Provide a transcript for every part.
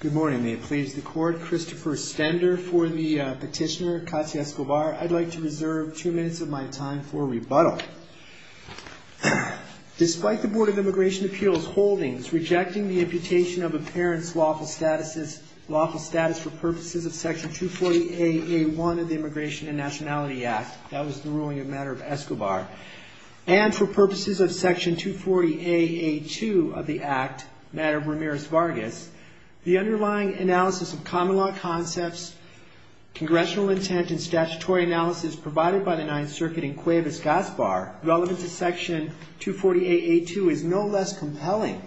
Good morning, may it please the court. Christopher Stender for the petitioner, Katya Escobar. I'd like to reserve two minutes of my time for rebuttal. Despite the Board of Immigration Appeals holdings rejecting the imputation of a parent's lawful statuses, lawful status for purposes of Section 240 A.A.1 of the Immigration and Nationality Act, that was the ruling of Madam Escobar, and for purposes of Section 240 A.A.2 of the Act, Madam Ramirez Vargas, the underlying analysis of common law concepts, congressional intent and statutory analysis provided by the Ninth Circuit in Cuevas-Gaspar relevant to Section 240 A.A.2 is no less compelling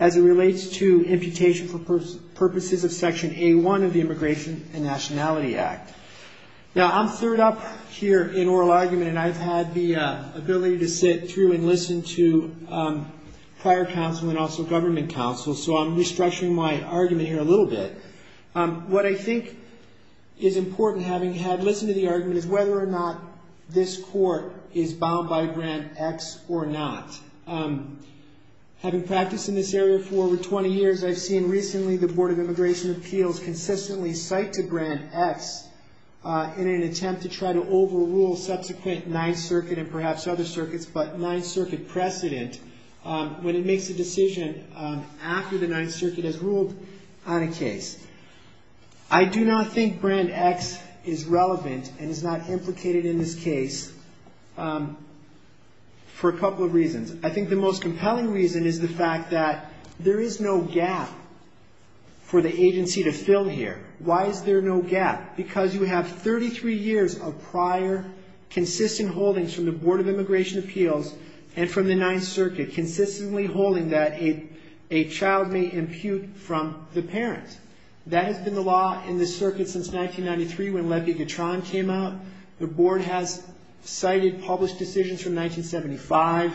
as it relates to imputation for purposes of Section A.1 of the Immigration and Nationality Act. Now, I'm third up here in oral argument, and I've had the ability to sit through and listen to prior counsel and also government counsel, so I'm restructuring my argument here a little bit. What I think is important, having had listened to the argument, is whether or not this court is bound by Grant X or not. Having practiced in this area for over 20 years, I've seen recently the Board of Immigration Appeals consistently cite to Grant X in an attempt to try to overrule subsequent Ninth Circuit and perhaps other circuits, but Ninth Circuit precedent when it makes a decision after the Ninth Circuit has ruled on a case. I do not think Grant X is relevant and is not implicated in this case for a couple of reasons. I think the most compelling reason is the fact that there is no gap for the agency to fill here. Why is there no gap? Because you have 33 years of prior consistent holdings from the Board of Immigration Appeals and from the Ninth Circuit consistently holding that a child may impute from the parent. That has been the law in the circuit since 1993 when Lepi-Gatron came out. The Board has cited published decisions from 1975,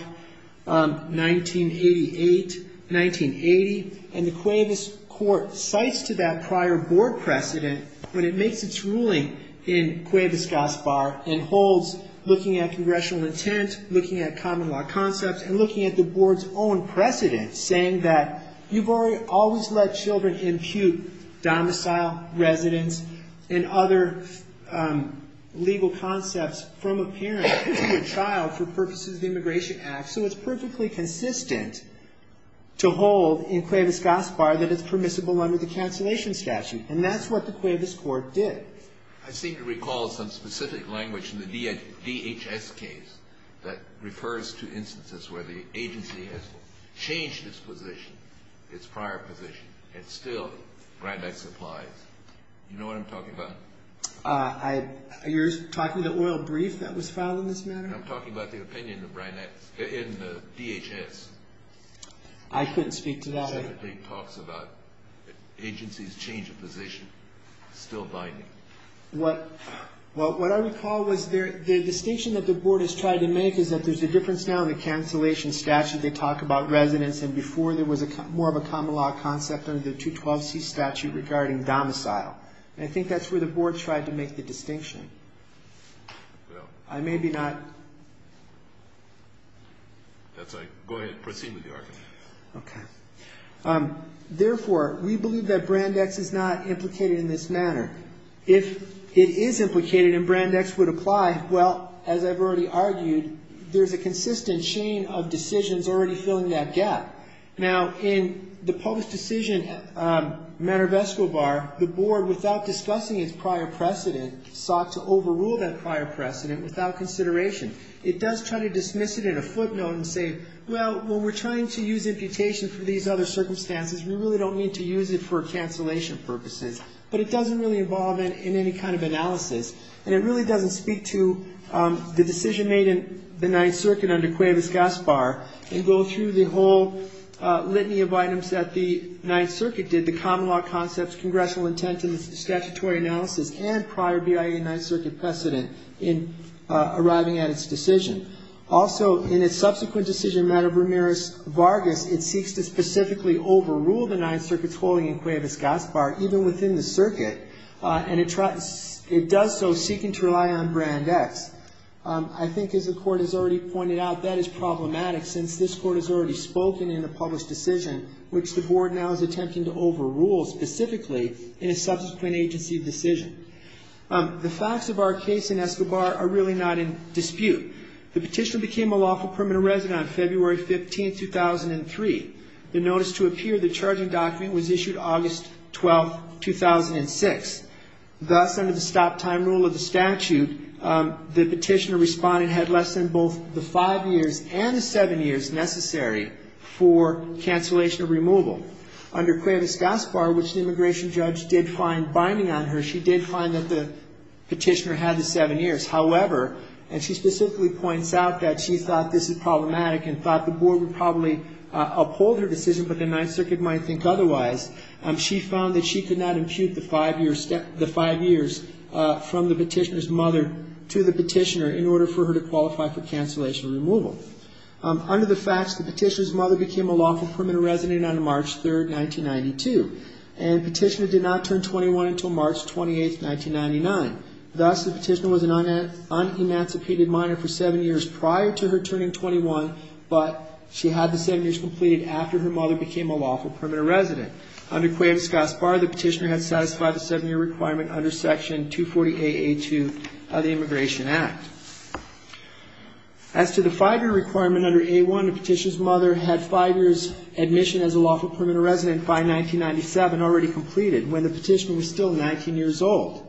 1988, 1980, and the way this court cites to that prior Board precedent when it makes its ruling in Cuevas-Gaspar and holds looking at congressional intent, looking at common law concepts, and looking at the Board's own precedent saying that you've already always let children impute domicile, residence, and other legal concepts from a parent into a child for purposes of the Immigration Act, so it's perfectly consistent to hold in Cuevas-Gaspar that it's permissible under the statute, and that's what the Cuevas court did. I seem to recall some specific language in the DHS case that refers to instances where the agency has changed its position, its prior position, and still Grand Ex applies. You know what I'm talking about? You're talking about the oil brief that was filed in this matter? I'm talking about the opinion of Grand Ex in the DHS. I couldn't speak to that. It talks about agencies change of position, still binding. What I recall was the distinction that the Board has tried to make is that there's a difference now in the cancellation statute. They talk about residence, and before there was more of a common law concept under the 212C statute regarding domicile, and I think that's where the Board tried to make the distinction. I may be not... That's all right. Go ahead. Proceed with your argument. Okay. Therefore, we believe that Grand Ex is not implicated in this matter. If it is implicated and Grand Ex would apply, well, as I've already argued, there's a consistent chain of decisions already filling that gap. Now, in the post-decision matter of Escobar, the Board, without discussing its prior precedent, sought to overrule that prior precedent without consideration. It does try to dismiss it at a footnote and say, well, when we're trying to use imputation for these other circumstances, we really don't need to use it for cancellation purposes, but it doesn't really involve in any kind of analysis, and it really doesn't speak to the decision made in the Ninth Circuit under Cuevas-Gaspar and go through the whole litany of items that the Ninth Circuit did, the common law concepts, congressional intentions, statutory analysis, and prior BIA Ninth Circuit precedent in arriving at its decision. Also, in its subsequent decision matter of Ramirez-Vargas, it seeks to specifically overrule the Ninth Circuit's holding in Cuevas-Gaspar, even within the circuit, and it does so seeking to rely on Grand Ex. I think, as the Court has already pointed out, that is problematic, since this Court has already spoken in a series of rules specifically in a subsequent agency decision. The facts of our case in Escobar are really not in dispute. The petitioner became a lawful permanent resident on February 15, 2003. The notice to appear in the charging document was issued August 12, 2006. Thus, under the stop-time rule of the statute, the petitioner respondent had less than both the five years and the seven years necessary for cancellation of removal. Under Cuevas-Gaspar, which the immigration judge did find binding on her, she did find that the petitioner had the seven years. However, and she specifically points out that she thought this is problematic and thought the Board would probably uphold her decision, but the Ninth Circuit might think otherwise, she found that she could not impute the five years from the petitioner's mother to the petitioner in order for her to qualify for cancellation of removal. Under the facts, the petitioner's mother became a lawful permanent resident on March 3, 1992, and the petitioner did not turn 21 until March 28, 1999. Thus, the petitioner was an un-emancipated minor for seven years prior to her turning 21, but she had the seven years completed after her mother became a lawful permanent resident. Under Cuevas-Gaspar, the petitioner has satisfied the seven-year requirement under Section 248.82 of the Immigration Act. As to the five-year requirement under A1, the petitioner's mother had five years admission as a lawful permanent resident by 1997, already completed, when the petitioner was still 19 years old.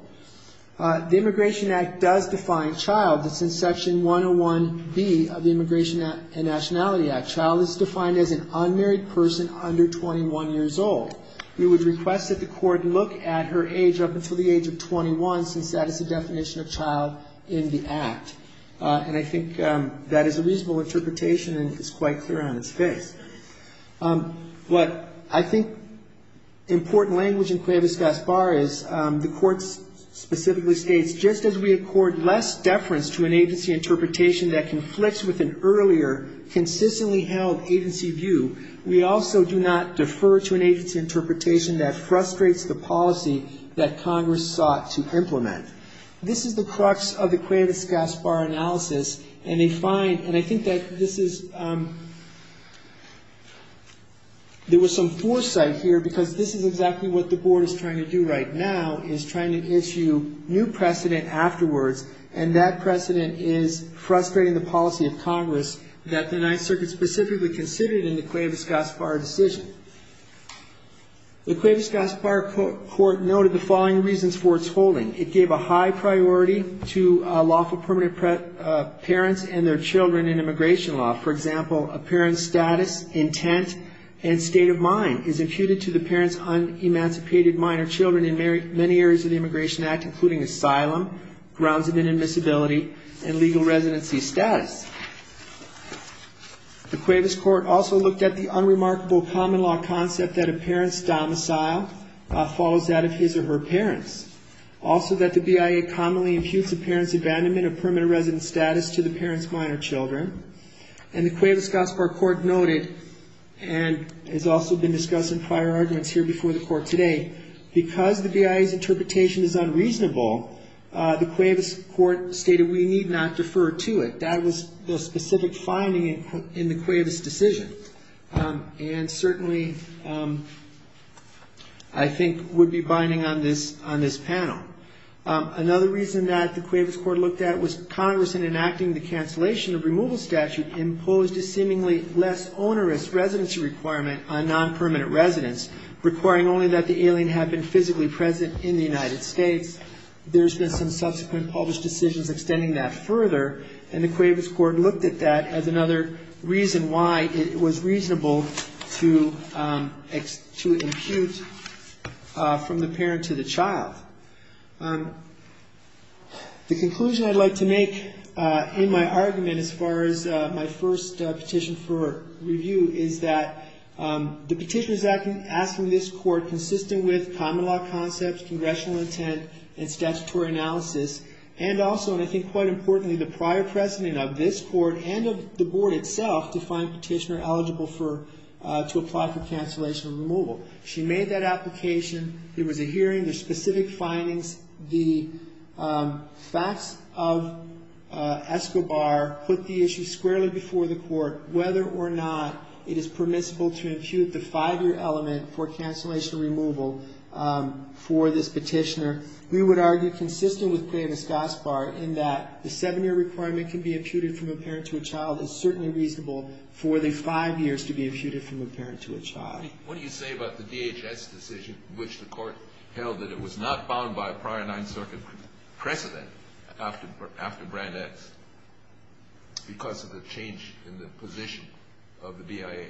The Immigration Act does define child. That's in Section 101B of the Immigration and Nationality Act. Child is defined as an unmarried person under 21 years old. We would request that the court look at her age up until the age of 21 since that is the definition of child in the Act. And I think that is a reasonable interpretation, and it's quite clear on its face. What I think important language in Cuevas-Gaspar is the court specifically states, just as we accord less deference to an agency interpretation that conflicts with an earlier, consistently held agency view, we also do not defer to an agency interpretation that frustrates the Cuevas-Gaspar analysis, and they find, and I think that this is, there was some foresight here because this is exactly what the board is trying to do right now, is trying to issue new precedent afterwards, and that precedent is frustrating the policy of Congress that the Ninth Circuit specifically considered in the Cuevas-Gaspar decision. The Cuevas-Gaspar court noted the following reasons for its holding. It gave a high priority to lawful permanent parents and their children in immigration law. For example, a parent's status, intent, and state of mind is imputed to the parent's un-emancipated minor children in many areas of the Immigration Act, including asylum, grounds of inadmissibility, and legal residency status. The Cuevas court also looked at the unremarkable common law concept that a parent's domicile follows that of his or her parents. Also that the BIA commonly imputes a parent's abandonment of permanent residence status to the parent's minor children. And the Cuevas-Gaspar court noted, and has also been discussing prior arguments here before the court today, because the BIA's interpretation is unreasonable, the Cuevas court stated we need not defer to it. That was the main argument I think would be binding on this panel. Another reason that the Cuevas court looked at was Congress, in enacting the cancellation of removal statute, imposed a seemingly less onerous residency requirement on non-permanent residents, requiring only that the alien had been physically present in the United States. There's been some subsequent published decisions extending that further, and the Cuevas court looked at that as another reason why it was reasonable to defer to the Cuevas court. To impute from the parent to the child. The conclusion I'd like to make in my argument, as far as my first petition for review, is that the petition is asking this court, consistent with common law concepts, congressional intent, and statutory analysis, and also, and I think quite importantly, the prior precedent of this court and of the board itself, to find a petitioner eligible to apply for cancellation of removal. She made that application, there was a hearing, there's specific findings, the facts of ESCOBAR put the issue squarely before the court, whether or not it is permissible to impute the five-year element for cancellation of removal for this petitioner. We would argue, consistent with previous ESCOBAR, in that the seven-year requirement can be imputed from a parent to a child, it's certainly reasonable for the court to defer to the parent. What do you say about the DHS decision, which the court held that it was not bound by a prior Ninth Circuit precedent, after Brand X, because of the change in the position of the DIA?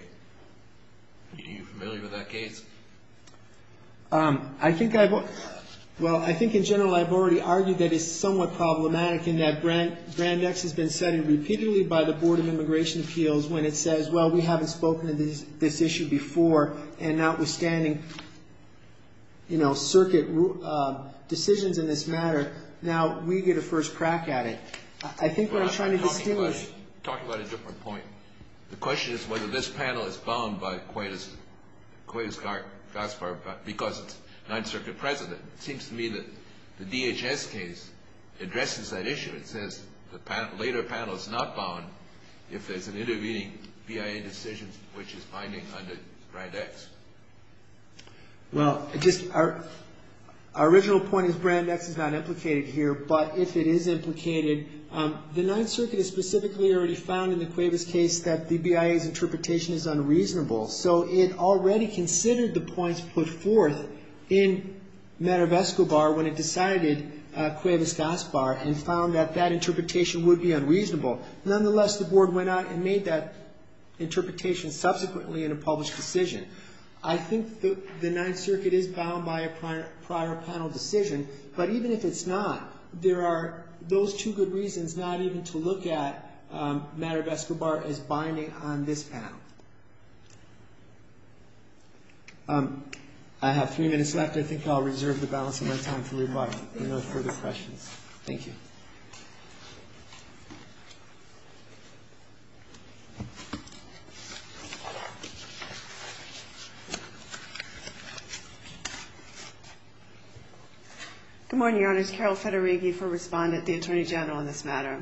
Are you familiar with that case? I think I've, well, I think in general I've already argued that it's somewhat problematic, and that Brand X has been said repeatedly by the Board of Supervisors, and notwithstanding, you know, circuit decisions in this matter, now we get a first crack at it. I think what I'm trying to distinguish... Talking about a different point. The question is whether this panel is bound by Coitus Gaspard because it's Ninth Circuit precedent. It seems to me that the DHS case addresses that issue. It says the later panel is not bound if there's an intervening BIA decision which is binding under Brand X. Well, it just, our original point is Brand X is not implicated here, but if it is implicated, the Ninth Circuit has specifically already found in the Coitus Gaspard case that the BIA's interpretation is unreasonable, so it already considered the points put forth in Manovesco Bar when it decided Coitus Gaspard, and found that that interpretation would be unreasonable. Nonetheless, the Board went out and made that interpretation subsequently in a published decision. I think the Ninth Circuit is bound by a prior panel decision, but even if it's not, there are those two good reasons not even to look at Manovesco Bar as binding on this panel. I have three minutes left. I think I'll reserve the balance of my time for rebuttal if there are no further questions. Thank you. Good morning, Your Honors. Carol Federighi for Respondent, the Attorney General on this matter.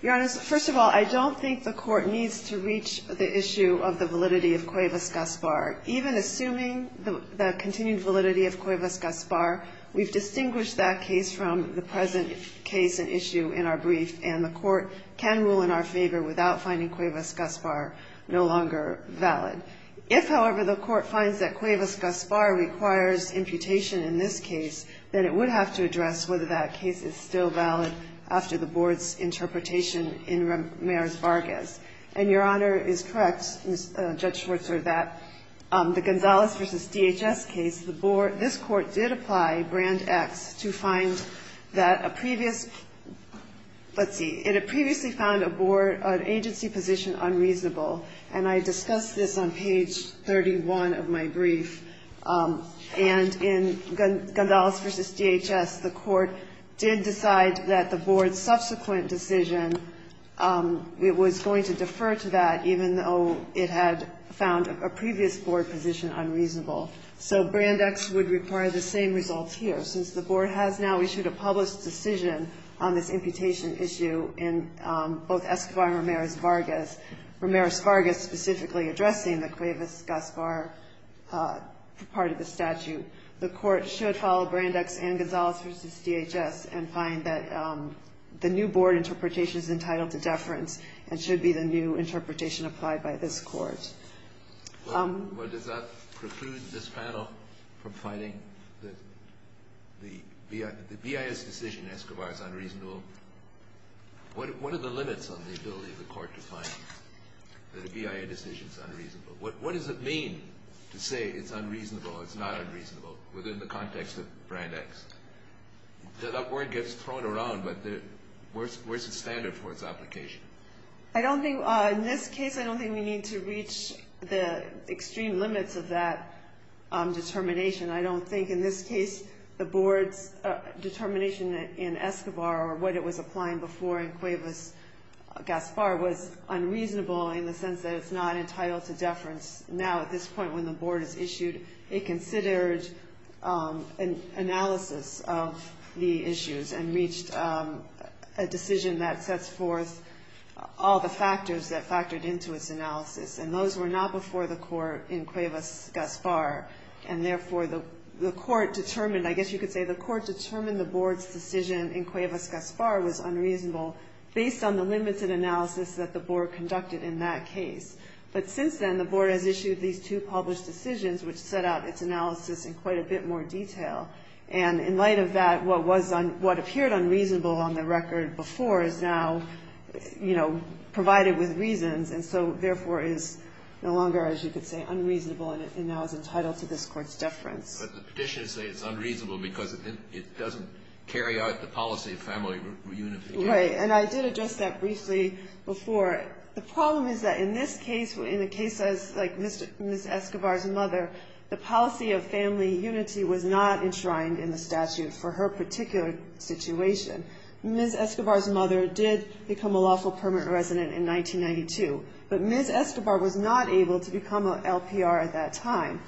Your Honors, first of all, I don't think the court needs to reach the issue of the validity of Coitus Gaspard. Even assuming the continued validity of Coitus Gaspard, we've distinguished that case from the present case and issue in our brief, and the court can rule in our favor without finding Coitus Gaspard no longer binding. If, however, the court finds that Coitus Gaspard requires imputation in this case, then it would have to address whether that case is still valid after the Board's interpretation in Ramirez-Vargas. And Your Honor is correct, Judge Schwarzer, that the Gonzales v. DHS case, this Court did apply Brand X to find that a previous let's see, it had previously found a Board agency position unreasonable. And I discussed this on page 31 of my brief. And in Gonzales v. DHS, the Court did decide that the Board's subsequent decision, it was going to defer to that even though it had found a previous Board position unreasonable. So Brand X would require the same results here. Since the Board has now issued a published decision on this imputation issue in both Escobar and Ramirez-Vargas, Ramirez-Vargas specifically addressing the Coitus Gaspard part of the statute, the Court should follow Brand X and Gonzales v. DHS and find that the new Board interpretation is entitled to deference and should be the new interpretation applied by this Court. The BIS decision in Escobar is unreasonable. What are the limits on the ability of the Court to find that a BIS decision is unreasonable? What does it mean to say it's unreasonable or it's not unreasonable within the context of Brand X? That word gets thrown around, but where's the standard for its application? I don't think, in this case, I don't think we need to reach the extreme limits of that determination. I don't think, in this case, the Board should be able to find that the Board's determination in Escobar or what it was applying before in Coitus Gaspard was unreasonable in the sense that it's not entitled to deference. Now, at this point, when the Board is issued, it considered an analysis of the issues and reached a decision that sets forth all the factors that factored into its analysis. And those were not before the Court in Coitus Gaspard. And therefore, the Court determined, I guess you could say, that the Board should be able to find that the Board's determination in Coitus Gaspard was unreasonable based on the limited analysis that the Board conducted in that case. But since then, the Board has issued these two published decisions, which set out its analysis in quite a bit more detail. And in light of that, what was on, what appeared unreasonable on the record before is now, you know, provided with reasons. And so, therefore, is no longer, as you could say, unreasonable and now is entitled to this Court's deference. But the petitions say it's unreasonable because it doesn't carry out the policy of family reunification. Right. And I did address that briefly before. The problem is that in this case, in a case like Ms. Escobar's mother, the policy of family unity was not enshrined in the statute for her particular situation. Ms. Escobar's mother did become a lawful permanent resident in 1992, but Ms. Escobar was not able to become an LPR at that time.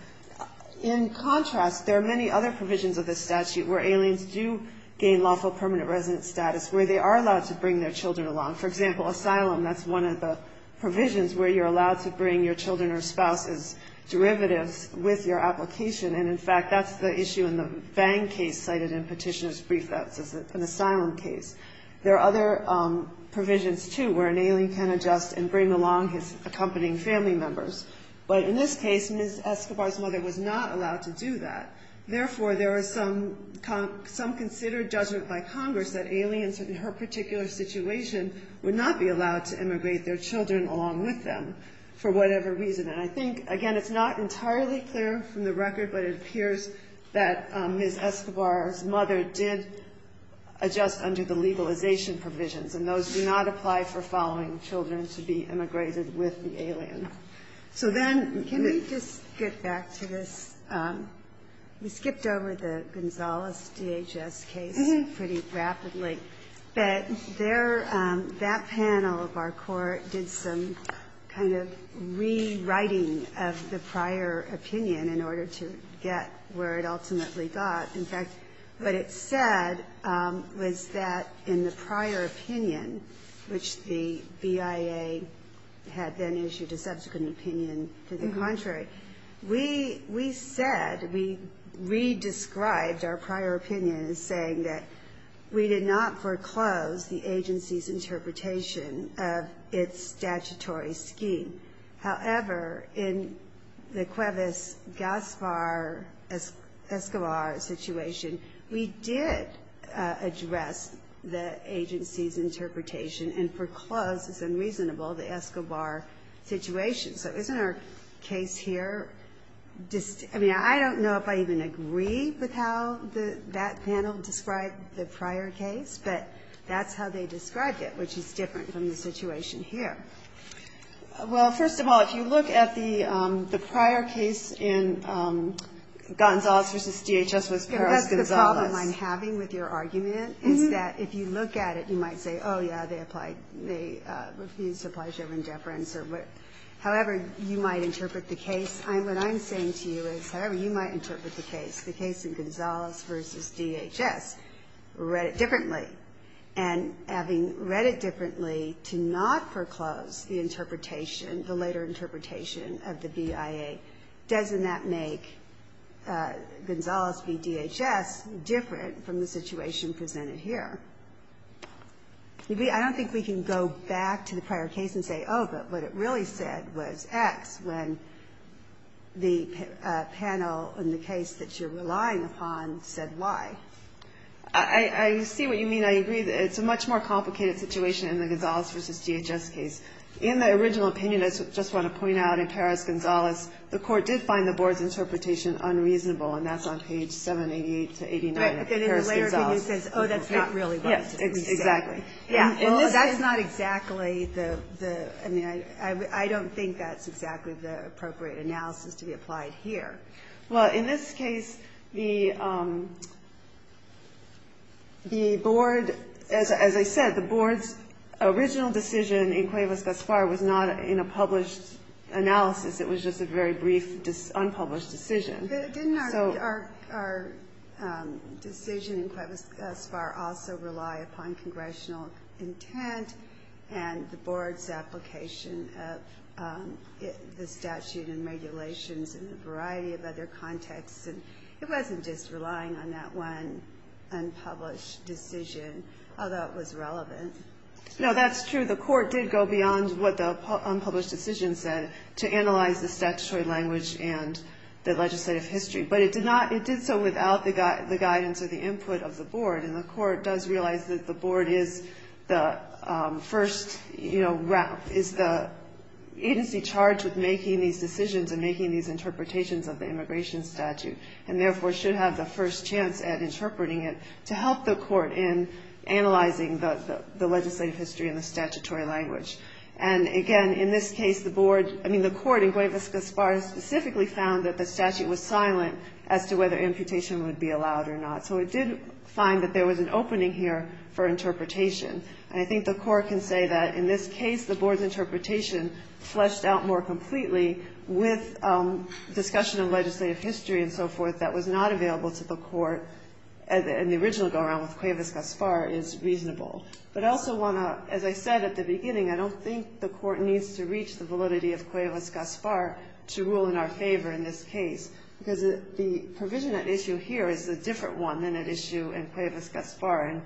In contrast, there are many other provisions of the statute where aliens do gain lawful permanent resident status, where they are allowed to bring their children along. For example, asylum, that's one of the provisions where you're allowed to bring your children or spouse's derivatives with your application. And, in fact, that's the issue in the Vang case cited in Petitioner's brief. That's an asylum case. There are other provisions, too, where an alien can adjust and bring along his accompanying family members. But in this case, Ms. Escobar's mother was not allowed to do that. Therefore, there is some considered judgment by Congress that aliens in her particular situation would not be allowed to immigrate their children along with them for whatever reason. And I think, again, it's not entirely clear from the record, but it appears that Ms. Escobar's mother did adjust under the legalization provisions, and those do not apply for following children to be immigrated with the alien. So then, can we just get back to this? We skipped over the Gonzales DHS case pretty rapidly. But there, that panel of our court did some kind of rewriting of the prior opinion in order to get where it ultimately got. In fact, what it said was that in the prior opinion, which the BIA had then issued a subsequent opinion, to the contrary, we said, we re-described our prior opinion as saying that we did not foreclose the agency's interpretation of its statutory scheme. However, in the Cuevas-Gaspar-Escobar situation, we did address the agency's interpretation and foreclosed, as unreasonable, the Escobar situation. So isn't our case here, I mean, I don't know if I even agree with how that panel described the prior case, but that's how they described it, which is different from the situation here. Well, first of all, if you look at the prior case in Gonzales v. DHS v. Perez-Gonzales. The problem I'm having with your argument is that if you look at it, you might say, oh, yeah, they refused to apply show of indifference. However, you might interpret the case. What I'm saying to you is, however you might interpret the case, the case in Gonzales v. DHS, read it differently. And having read it differently, to not foreclose the interpretation, the later interpretation of the BIA, doesn't that make Gonzales v. DHS more reasonable? It's different from the situation presented here. I don't think we can go back to the prior case and say, oh, but what it really said was X, when the panel in the case that you're relying upon said Y. I see what you mean. I agree that it's a much more complicated situation in the Gonzales v. DHS case. In the original opinion, I just want to point out, in Perez-Gonzales, the Court did find the Board's interpretation unreasonable, and that's on page 788-89 of Perez-Gonzales. Right, but then the later opinion says, oh, that's not really what it's supposed to say. Yes, exactly. Well, that's not exactly the, I mean, I don't think that's exactly the appropriate analysis to be applied here. Well, in this case, the Board, as I said, the Board's original decision in Cuevas-Gaspar was not in a published analysis. It was just a very brief unpublished decision. Didn't our decision in Cuevas-Gaspar also rely upon congressional intent and the Board's application of the statute and regulations in a variety of ways? And it wasn't just relying on that one unpublished decision, although it was relevant. No, that's true, the Court did go beyond what the unpublished decision said to analyze the statutory language and the legislative history. But it did so without the guidance or the input of the Board, and the Court does realize that the Board is the first, you know, is the agency charged with making these decisions and making these interpretations of the immigration statute, and therefore should have the first chance at interpreting it to help the Court in analyzing the legislative history and the statutory language. And again, in this case, the Board, I mean, the Court in Cuevas-Gaspar specifically found that the statute was silent as to whether amputation would be allowed or not. So it did find that there was an opening here for interpretation. And I think the Court can say that in this case, the Board's interpretation fleshed out more completely with discussion of legislative history and so forth that was not available to the Court in the original go-around with Cuevas-Gaspar is reasonable. But I also want to, as I said at the beginning, I don't think the Court needs to reach the validity of Cuevas-Gaspar to rule in our favor in this case, because the provision at issue here is a different one than at issue in Cuevas-Gaspar. And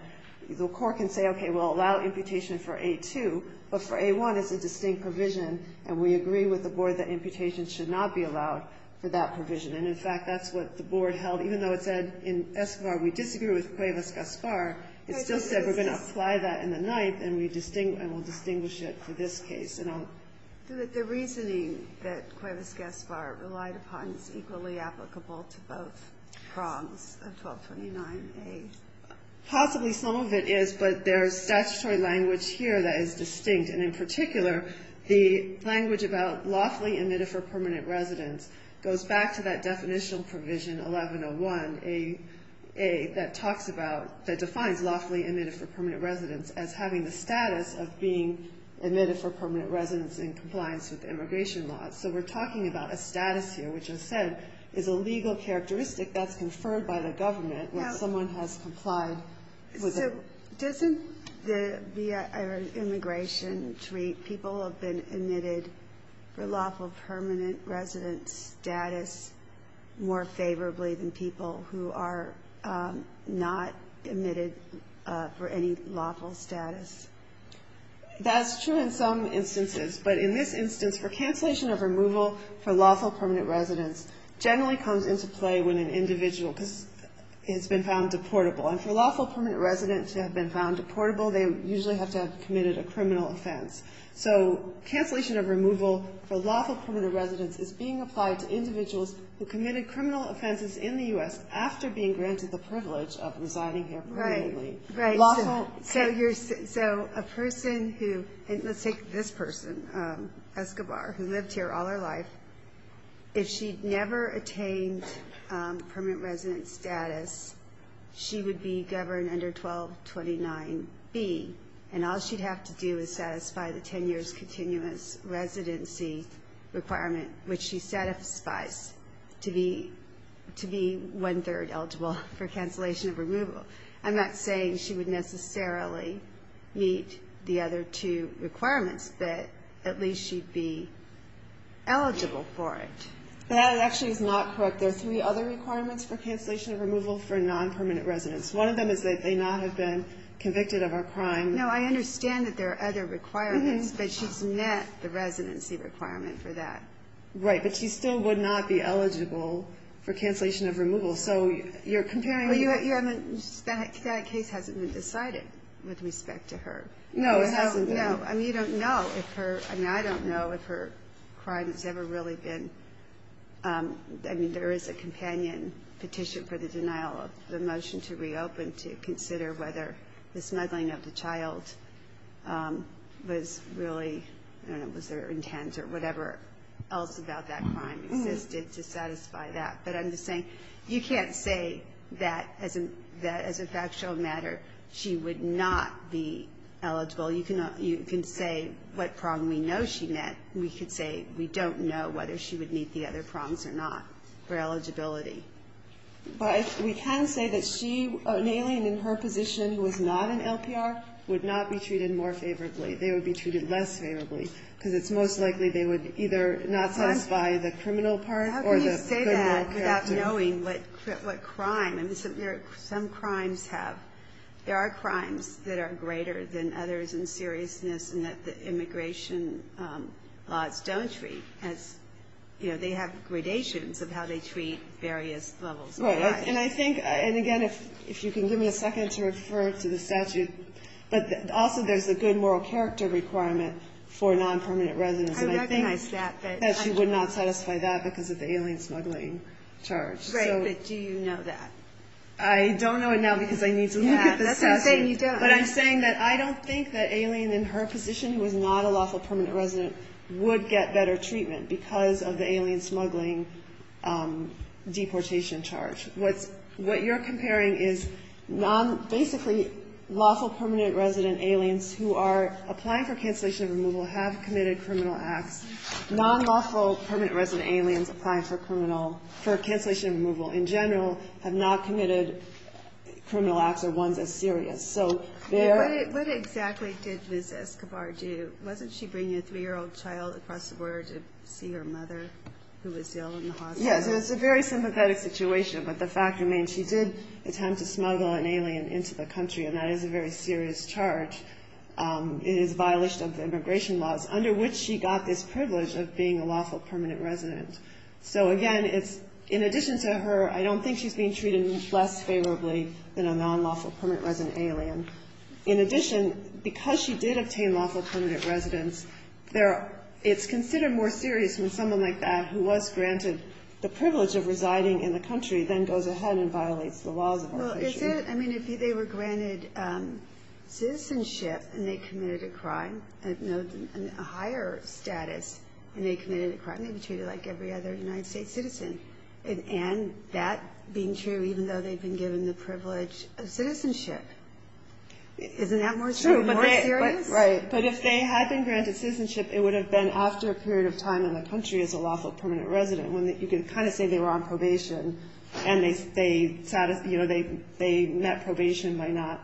the Court can say, okay, we'll allow amputation for A-2, but for A-1, it's a distinct provision, and we agree with the Board that amputation should not be allowed for that provision. And, in fact, that's what the Board held, even though it said in Escobar we disagree with Cuevas-Gaspar. It still said we're going to apply that in the Ninth, and we will distinguish it for this case. And I'll do it. The reasoning that Cuevas-Gaspar relied upon is equally applicable to both prongs of 1229A. Possibly some of it is, but there's statutory language here that is distinct. And, in particular, the language about lawfully admitted for permanent residence goes back to that definitional provision, 1101A, that talks about, that defines lawfully admitted for permanent residence as having the status of being admitted for permanent residence in compliance with immigration laws. So we're talking about a status here, which, as I said, is a legal characteristic that's conferred by the government when someone has complied with it. So doesn't the immigration treat people who have been admitted for lawful permanent residence status more favorably than people who are not admitted for any lawful status? That's true in some instances, but in this instance, for cancellation of removal for lawful permanent residence generally comes into play when an individual has been found deportable, and for lawful permanent residence to have been found deportable, they usually have to have committed a criminal offense. So cancellation of removal for lawful permanent residence is being applied to individuals who committed criminal offenses in the U.S. after being granted the privilege of residing here permanently. So a person who, let's take this person, Escobar, who lived here all her life, if she never attained permanent residence status, she would be governed under 1229B, and all she'd have to do is satisfy the 10 years continuous residency requirement, which she satisfies to be one-third eligible for and meet the other two requirements, that at least she'd be eligible for it. That actually is not correct. There are three other requirements for cancellation of removal for non-permanent residence. One of them is that they not have been convicted of a crime. No, I understand that there are other requirements, but she's met the residency requirement for that. Right, but she still would not be eligible for cancellation of removal. So you're comparing... That case hasn't been decided with respect to her. No, it hasn't been. I mean, I don't know if her crime has ever really been... I mean, there is a companion petition for the denial of the motion to reopen to consider whether the smuggling of the child was really, I don't know, was there intent or whatever else about that crime existed to satisfy that. But I'm just saying, you can't say that as a factual matter she would not be eligible. You can say what prong we know she met. We could say we don't know whether she would meet the other prongs or not for eligibility. But we can say that she, an alien in her position who is not an LPR, would not be treated more favorably. They would be treated less favorably, because it's most likely they would either not satisfy the criminal part or the criminal conviction. Without knowing what crime... I mean, some crimes have... There are crimes that are greater than others in seriousness and that the immigration laws don't treat as... They have gradations of how they treat various levels of crime. And again, if you can give me a second to refer to the statute, but also there's a good moral character requirement for non-permanent residents. And I think that she would not satisfy that because of the alien smuggling charge. Right, but do you know that? I don't know it now because I need to look at the statute. But I'm saying that I don't think that alien in her position who is not a lawful permanent resident would get better treatment because of the alien smuggling deportation charge. What you're comparing is basically lawful permanent resident aliens who are applying for cancellation of removal have committed criminal acts. Non-lawful permanent resident aliens applying for cancellation of removal in general have not committed criminal acts or ones as serious. What exactly did Ms. Escobar do? Wasn't she bringing a three-year-old child across the border to see her mother who was ill in the hospital? Yes, it was a very sympathetic situation, but the fact remains she did attempt to smuggle an alien into the country, and that is a very serious charge. It is a violation of immigration laws under which she got this privilege of being a lawful permanent resident. So again, in addition to her, I don't think she's being treated less favorably than a non-lawful permanent resident alien. In addition, because she did obtain lawful permanent residence, it's considered more serious when someone like that who was granted the privilege of residing in the country then goes ahead and violates the laws of our country. I mean, if they were granted citizenship and they committed a crime, a higher status, and they committed a crime, they'd be treated like every other United States citizen. And that being true even though they've been given the privilege of citizenship, isn't that more serious? But if they had been granted citizenship, it would have been after a period of time in the country as a lawful permanent resident. You can kind of say they were on probation, and they met probation by not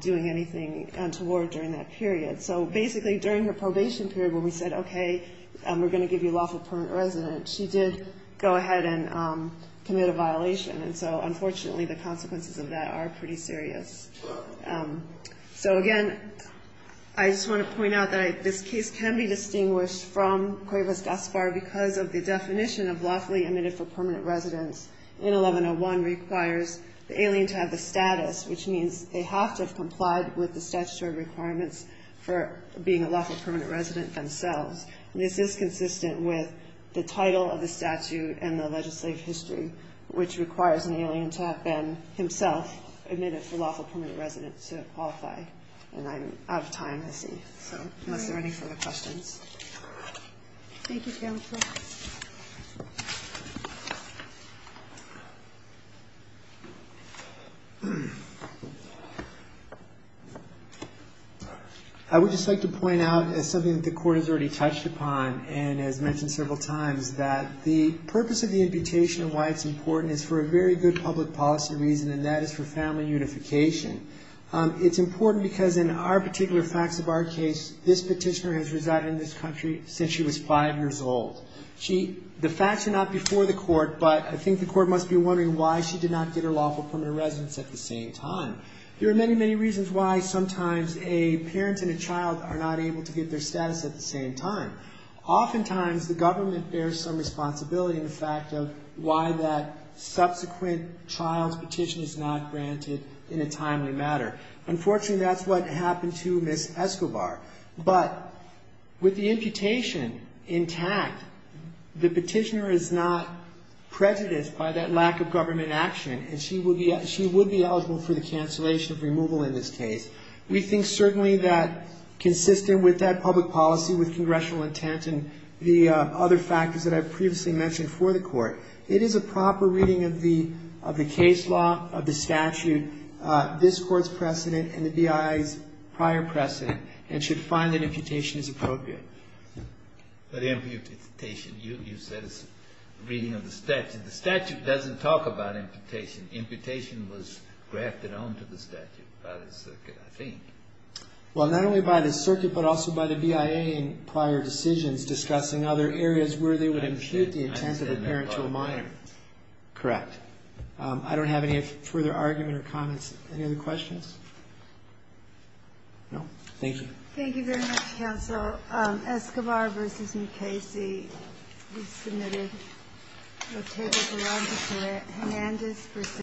doing anything untoward during that period. So basically, during her probation period when we said, okay, we're going to give you lawful permanent residence, she did go ahead and commit a violation. And so, unfortunately, the consequences of that are pretty serious. So again, I just want to point out that this case can be distinguished from Cuevas Gaspar because of the definition. The definition of lawfully admitted for permanent residence in 1101 requires the alien to have the status, which means they have to have complied with the statutory requirements for being a lawful permanent resident themselves. And this is consistent with the title of the statute and the legislative history, which requires an alien to have been himself admitted for lawful permanent residence to qualify. And I'm out of time, I see, so unless there are any further questions. I would just like to point out, as something that the court has already touched upon and has mentioned several times, that the purpose of the imputation and why it's important is for a very good public policy reason, and that is for family unification. It's important because in our particular facts of our case, this petitioner has resided in this country since she was five years old. The facts are not before the court, but I think the court must be wondering why she did not get her lawful permanent residence at the same time. There are many, many reasons why sometimes a parent and a child are not able to get their status at the same time. Oftentimes, the government bears some responsibility in the fact of why that subsequent child's petition is not granted in a timely matter. Unfortunately, that's what happened to Ms. Escobar. The petitioner is not prejudiced by that lack of government action, and she would be eligible for the cancellation of removal in this case. We think certainly that consistent with that public policy, with congressional intent and the other factors that I've previously mentioned for the court, it is a proper reading of the case law, of the statute, this court's precedent, and the BIA's prior precedent, and should find that imputation is appropriate. But imputation, you said it's a reading of the statute. The statute doesn't talk about imputation. Imputation was grafted onto the statute by the circuit, I think. Well, not only by the circuit, but also by the BIA in prior decisions discussing other areas where they would impute the intent of a parent to a minor. Correct. I don't have any further argument or comments. Any other questions? No? Thank you. Thank you very much, counsel. Escobar v. Mukasey. We've submitted a table for audit today.